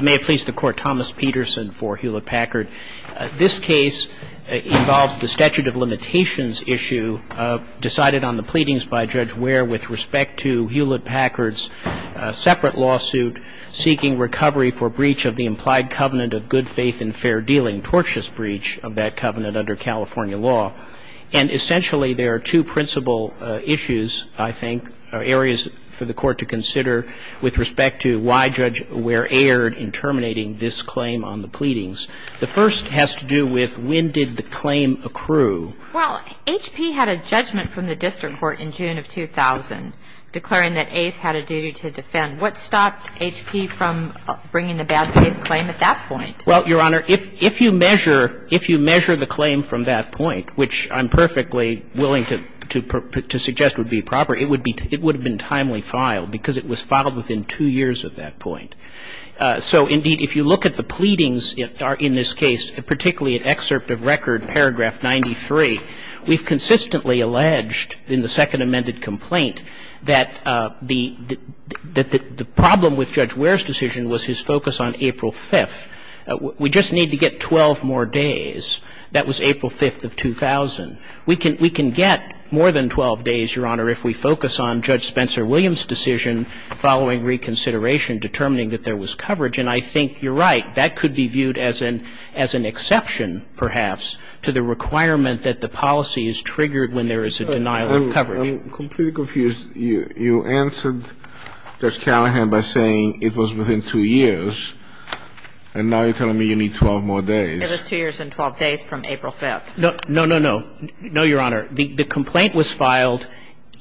May it please the Court, Thomas Peterson for Hewlett-Packard. This case involves the Statute of Limitations issue decided on the pleadings by Judge Ware with respect to Hewlett-Packard's separate lawsuit seeking recovery for breach of the implied covenant of good faith and fair dealing, tortious breach of that covenant under California law. And essentially there are two principal issues, I think, areas for the Court to consider with respect to why Judge Ware airs in terminating this claim on the pleadings. The first has to do with when did the claim accrue? Well, H.P. had a judgment from the district court in June of 2000 declaring that Ace had a duty to defend. What stopped H.P. from bringing the bad faith claim at that point? Well, Your Honor, if you measure the claim from that point, which I'm perfectly willing to suggest would be proper, it would have been timely filed because it was filed within two years at that point. So, indeed, if you look at the pleadings in this case, particularly at excerpt of record paragraph 93, we've consistently alleged in the second amended complaint that the problem with Judge Ware's decision was his focus on April 5th. We just need to get 12 more days. That was April 5th of 2000. We can get more than 12 days, Your Honor, if we focus on Judge Spencer Williams' decision following reconsideration determining that there was coverage. And I think you're right. That could be viewed as an exception, perhaps, to the requirement that the policy is triggered when there is a denial of coverage. I'm completely confused. You answered Judge Callahan by saying it was within two years, and now you're telling me you need 12 more days. It was two years and 12 days from April 5th. No, no, no, no. No, Your Honor. The complaint was filed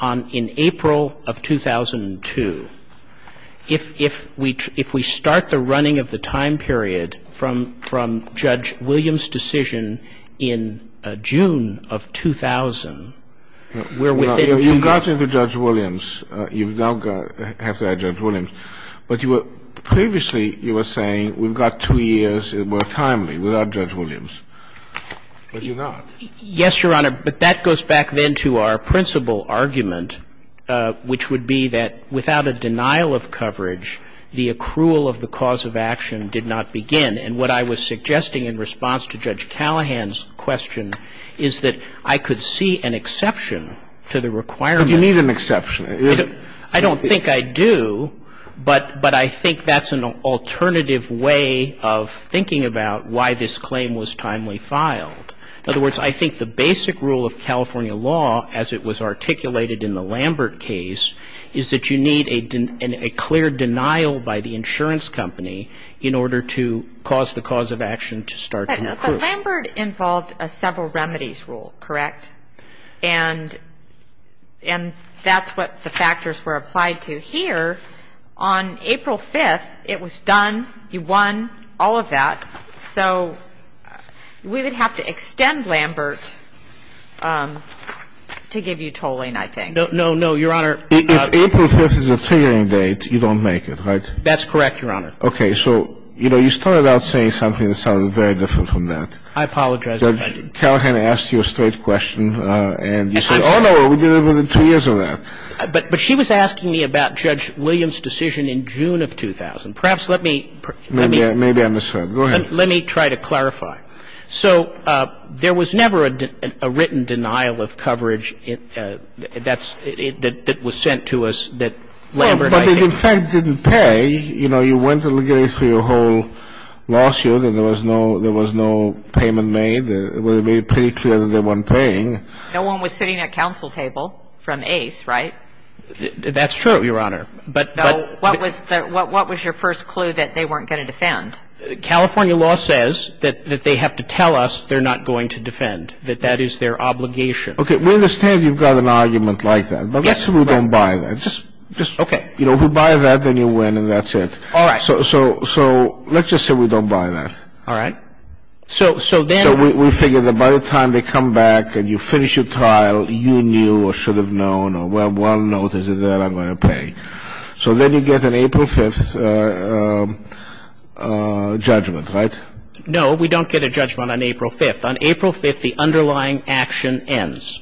in April of 2002. If we start the running of the time period from Judge Williams' decision in June of 2000, we're within 12 more days. You've gotten to Judge Williams. You now have to add Judge Williams. But you were – previously you were saying we've got two years, more timely, without Judge Williams, but you're not. Yes, Your Honor. But that goes back then to our principal argument, which would be that without a denial of coverage, the accrual of the cause of action did not begin. And what I was suggesting in response to Judge Callahan's question is that I could see an exception to the requirement. But you need an exception. I don't think I do, but I think that's an alternative way of thinking about why this claim was timely filed. In other words, I think the basic rule of California law, as it was articulated in the Lambert case, is that you need a clear denial by the insurance company in order to cause the cause of action to start to accrue. But Lambert involved a several remedies rule, correct? And that's what the factors were applied to here. On April 5th, it was done. You won. All of that. So we would have to extend Lambert to give you tolling, I think. No, no, no, Your Honor. If April 5th is the triggering date, you don't make it, right? That's correct, Your Honor. Okay. So, you know, you started out saying something that sounded very different from that. I apologize, Your Honor. Judge Callahan asked you a straight question, and you said, oh, no, we did it within two years of that. But she was asking me about Judge Williams' decision in June of 2000. Perhaps let me – Maybe I misheard. Go ahead. Let me try to clarify. So there was never a written denial of coverage that was sent to us that Lambert – But it, in fact, didn't pay. You know, you went through your whole lawsuit, and there was no payment made. It would have been pretty clear that they weren't paying. No one was sitting at counsel table from Ace, right? That's true, Your Honor. But – What was your first clue that they weren't going to defend? California law says that they have to tell us they're not going to defend, that that is their obligation. Okay. We understand you've got an argument like that. Yes. But let's just say we don't buy that. Okay. You know, if you buy that, then you win, and that's it. All right. So let's just say we don't buy that. All right. So then – So we figure that by the time they come back and you finish your trial, you knew or should have known, well, one note is that I'm going to pay. So then you get an April 5th judgment, right? No, we don't get a judgment on April 5th. On April 5th, the underlying action ends.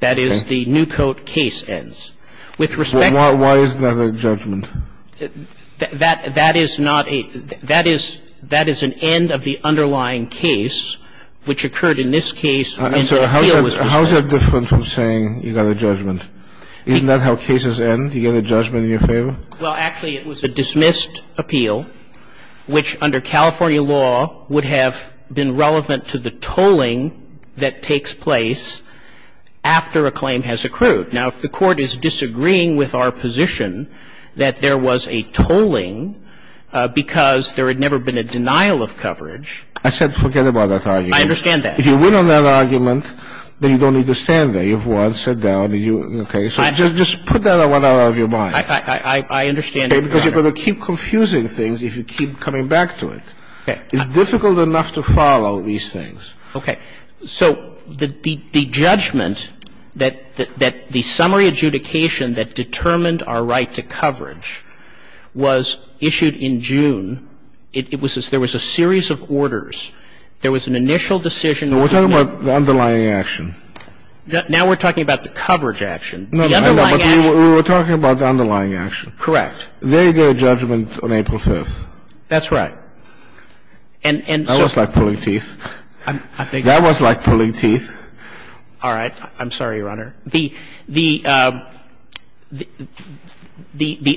That is, the Newcote case ends. With respect to – Why is that a judgment? That is not a – that is an end of the underlying case, which occurred in this case when the appeal was – How is that different from saying you got a judgment? Isn't that how cases end? You get a judgment in your favor? Well, actually, it was a dismissed appeal, which under California law would have been relevant to the tolling that takes place after a claim has accrued. Now, if the Court is disagreeing with our position that there was a tolling because there had never been a denial of coverage – I said forget about that argument. I understand that. If you win on that argument, then you don't need to stand there. You've won, sat down, and you – okay. So just put that one out of your mind. I understand that. Okay. Because you're going to keep confusing things if you keep coming back to it. Okay. It's difficult enough to follow these things. Okay. So the judgment that the summary adjudication that determined our right to coverage was issued in June. It was – there was a series of orders. There was an initial decision – No, we're talking about the underlying action. Now we're talking about the coverage action. The underlying action – No, but we were talking about the underlying action. Correct. They get a judgment on April 5th. That's right. And so – That was like pulling teeth. That was like pulling teeth. All right. I'm sorry, Your Honor. The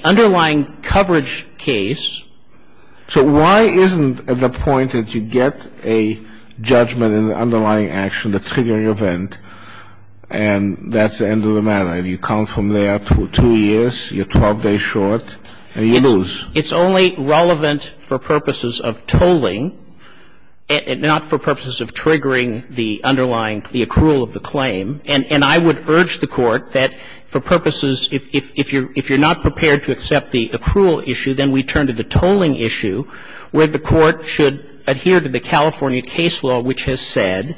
underlying coverage case – So why isn't the point that you get a judgment in the underlying action, the triggering And that's the end of the matter. You come from there for two years, you're 12 days short, and you lose. It's only relevant for purposes of tolling, not for purposes of triggering the underlying – the accrual of the claim. And I would urge the Court that for purposes – if you're not prepared to accept the accrual issue, then we turn to the tolling issue where the Court should adhere to the California case law, which has said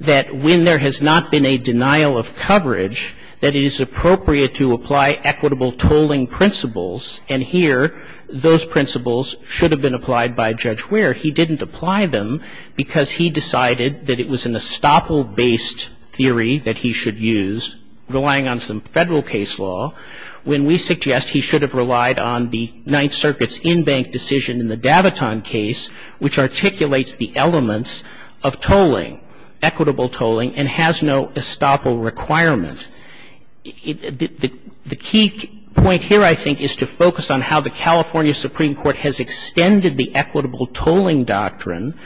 that when there has not been a denial of coverage, that it is appropriate to apply equitable tolling principles. And here, those principles should have been applied by Judge Ware. He didn't apply them because he decided that it was an estoppel-based theory that he should use, relying on some Federal case law, when we suggest he should have relied on the Ninth Circuit's decision in the Daviton case, which articulates the elements of tolling, equitable tolling, and has no estoppel requirement. The key point here, I think, is to focus on how the California Supreme Court has extended the equitable tolling doctrine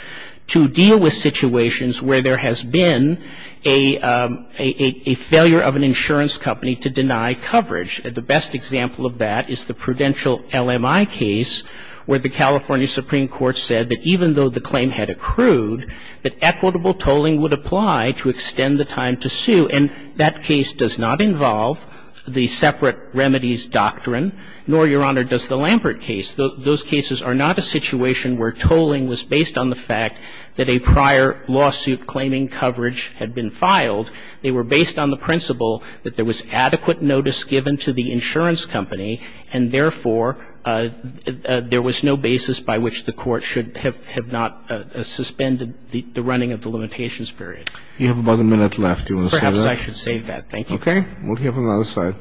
to deal with situations where there has been a failure of an insurance company to deny coverage. And the best example of that is the prudential LMI case where the California Supreme Court said that even though the claim had accrued, that equitable tolling would apply to extend the time to sue. And that case does not involve the separate remedies doctrine, nor, Your Honor, does the Lampert case. Those cases are not a situation where tolling was based on the fact that a prior lawsuit claiming coverage had been filed. They were based on the principle that there was adequate notice given to the insurance company, and therefore, there was no basis by which the Court should have not suspended the running of the limitations period. You have about a minute left. Do you want to save that? Perhaps I should save that. Thank you. Okay. We'll hear from the other side.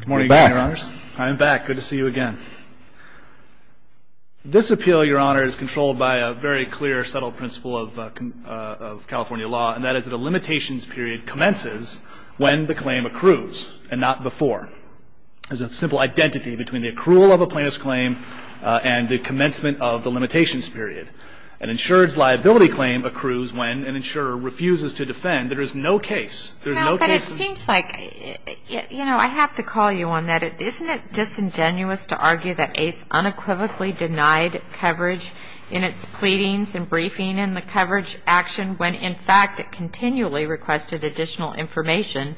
Good morning, Your Honors. I'm back. Good to see you again. This appeal, Your Honor, is controlled by a very clear, subtle principle of California law, and that is that a limitations period commences when the claim accrues, and not before. There's a simple identity between the accrual of a plaintiff's claim and the commencement of the limitations period. An insured's liability claim accrues when an insurer refuses to defend. There is no case. There's no case. No, but it seems like, you know, I have to call you on that. Isn't it disingenuous to argue that ACE unequivocally denied coverage in its pleadings and briefing in the coverage action when, in fact, it continually requested additional information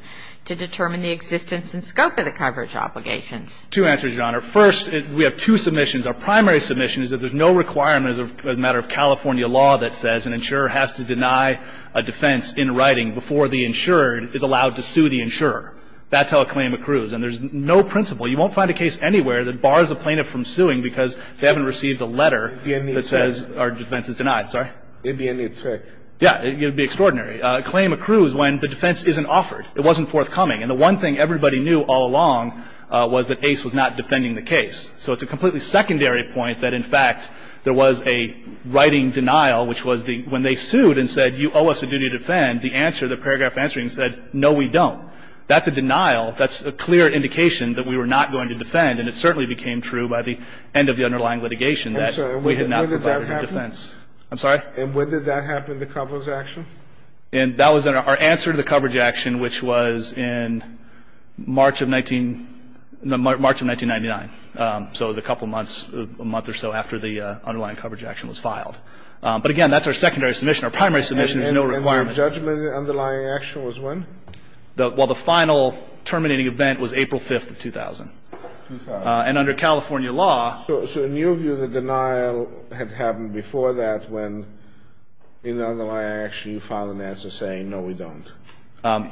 to determine the existence and scope of the coverage obligations? Two answers, Your Honor. First, we have two submissions. Our primary submission is that there's no requirement as a matter of California law that says an insurer has to deny a defense in writing before the insurer is allowed to sue the insurer. That's how a claim accrues. And there's no principle. You won't find a case anywhere that bars a plaintiff from suing because they haven't received a letter that says our defense is denied. Sorry? It'd be a new trick. Yeah. It would be extraordinary. A claim accrues when the defense isn't offered. It wasn't forthcoming. And the one thing everybody knew all along was that ACE was not defending the case. So it's a completely secondary point that, in fact, there was a writing denial, which was the – when they sued and said, you owe us a duty to defend, the answer, the paragraph answering said, no, we don't. That's a denial. That's a clear indication that we were not going to defend. And it certainly became true by the end of the underlying litigation that we had not provided a defense. When did that happen? I'm sorry? And when did that happen, the coverage action? And that was our answer to the coverage action, which was in March of 19 – March of 1999. So it was a couple months, a month or so after the underlying coverage action was filed. But, again, that's our secondary submission. Our primary submission is no requirement. And your judgment in the underlying action was when? While the final terminating event was April 5th of 2000. 2000. And under California law – So in your view, the denial had happened before that when, in the underlying action, you filed an answer saying, no, we don't.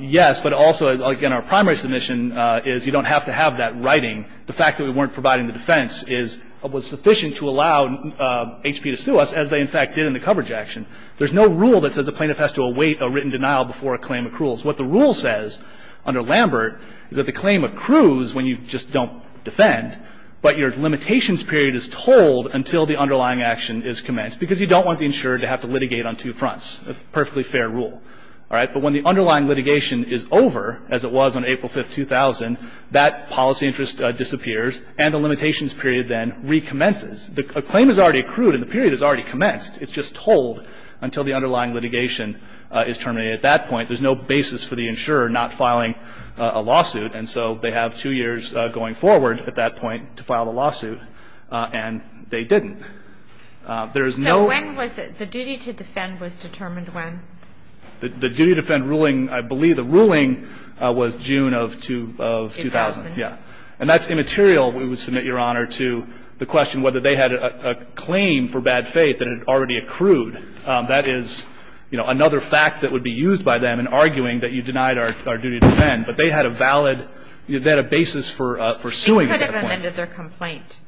Yes. But also, again, our primary submission is you don't have to have that writing. The fact that we weren't providing the defense is – was sufficient to allow HP to sue us, as they, in fact, did in the coverage action. There's no rule that says a plaintiff has to await a written denial before a claim accruals. What the rule says under Lambert is that the claim accrues when you just don't defend, but your limitations period is told until the underlying action is commenced. Because you don't want the insurer to have to litigate on two fronts. A perfectly fair rule. All right? But when the underlying litigation is over, as it was on April 5th, 2000, that policy interest disappears and the limitations period then recommences. A claim is already accrued and the period has already commenced. It's just told until the underlying litigation is terminated. At that point, there's no basis for the insurer not filing a lawsuit, and so they have two years going forward at that point to file the lawsuit, and they didn't. There is no – So when was it – the duty to defend was determined when? The duty to defend ruling – I believe the ruling was June of 2000. 2000. Yeah. And that's immaterial, we would submit, Your Honor, to the question whether they had a claim for bad faith that had already accrued. That is, you know, another fact that would be used by them in arguing that you denied our duty to defend. But they had a valid – they had a basis for suing at that point. They could have amended their complaint,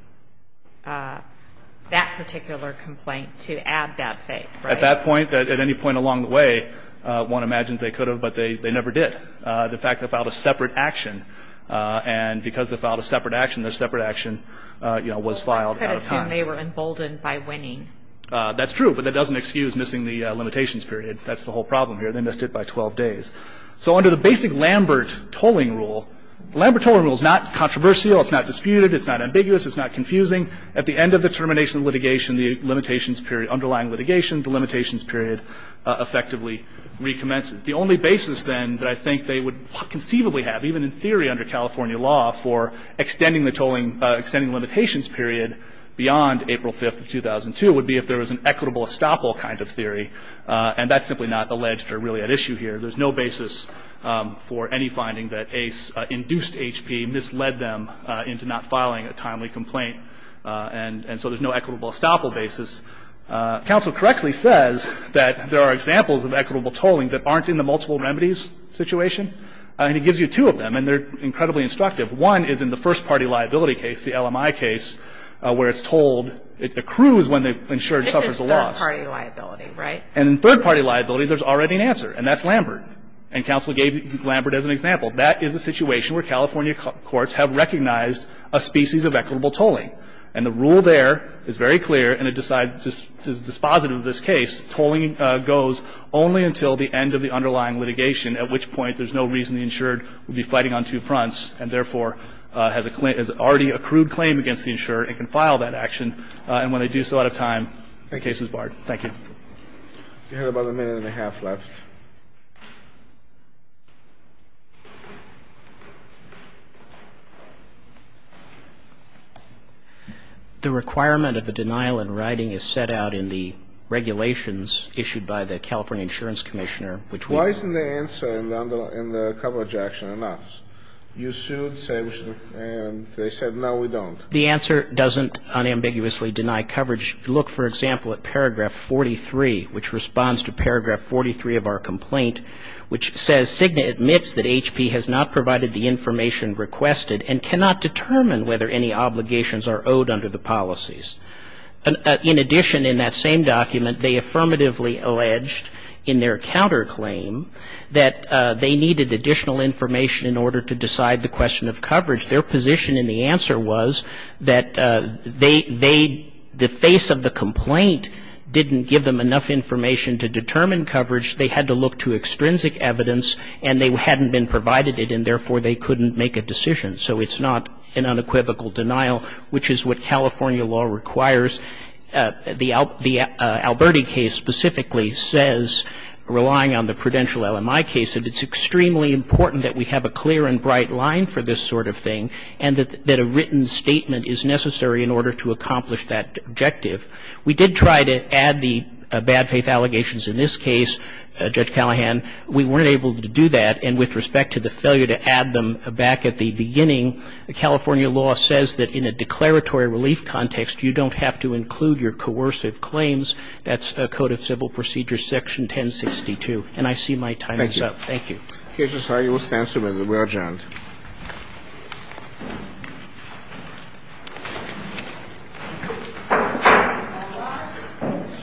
that particular complaint, to add that faith, right? At that point, at any point along the way, one imagines they could have, but they never did. The fact they filed a separate action, and because they filed a separate action, their separate action, you know, was filed out of time. Well, one could assume they were emboldened by winning. That's true, but that doesn't excuse missing the limitations period. That's the whole problem here. They missed it by 12 days. So under the basic Lambert tolling rule – the Lambert tolling rule is not controversial, it's not disputed, it's not ambiguous, it's not confusing. At the end of the termination of litigation, the limitations period – underlying litigation, the limitations period effectively recommences. The only basis, then, that I think they would conceivably have, even in theory under California law, for extending the tolling – extending the limitations period beyond April 5th of 2002 would be if there was an equitable estoppel kind of theory. And that's simply not alleged or really at issue here. There's no basis for any finding that induced HP misled them into not filing a timely complaint. And so there's no equitable estoppel basis. Counsel correctly says that there are examples of equitable tolling that aren't in the multiple remedies situation. And he gives you two of them, and they're incredibly instructive. One is in the first-party liability case, the LMI case, where it's told it accrues when the insured suffers a loss. This is third-party liability, right? And in third-party liability, there's already an answer. And that's Lambert. And counsel gave Lambert as an example. That is a situation where California courts have recognized a species of equitable tolling. And the rule there is very clear, and it decides – is dispositive of this case. Tolling goes only until the end of the underlying litigation, at which point there's no reason the insured would be fighting on two fronts and, therefore, has already accrued claim against the insurer and can file that action. And when they do, it's still out of time. The case is barred. Thank you. You have about a minute and a half left. The requirement of a denial in writing is set out in the regulations issued by the California Insurance Commissioner, which we know. Why isn't the answer in the coverage action enough? You sued, sanctioned, and they said, no, we don't. The answer doesn't unambiguously deny coverage. Look, for example, at paragraph 43, which responds to paragraph 43 of our complaint, which says, Cigna admits that HP has not provided the information requested and cannot determine whether any obligations are owed under the policies. In addition, in that same document, they affirmatively alleged in their counterclaim that they needed additional information in order to decide the question of coverage. Their position in the answer was that the face of the complaint didn't give them enough information to determine coverage. They had to look to extrinsic evidence, and they hadn't been provided it, and, therefore, they couldn't make a decision. So it's not an unequivocal denial, which is what California law requires. The Alberti case specifically says, relying on the prudential LMI case, that it's extremely important that we have a clear and bright line for this sort of thing, and that a written statement is necessary in order to accomplish that objective. We did try to add the bad faith allegations in this case, Judge Callahan. We weren't able to do that, and with respect to the failure to add them back at the beginning, California law says that in a declaratory relief context, you don't have to include your coercive claims. That's Code of Civil Procedures, Section 1062. And I see my time is up. Thank you. Thank you. The case is highly responsible. We are adjourned.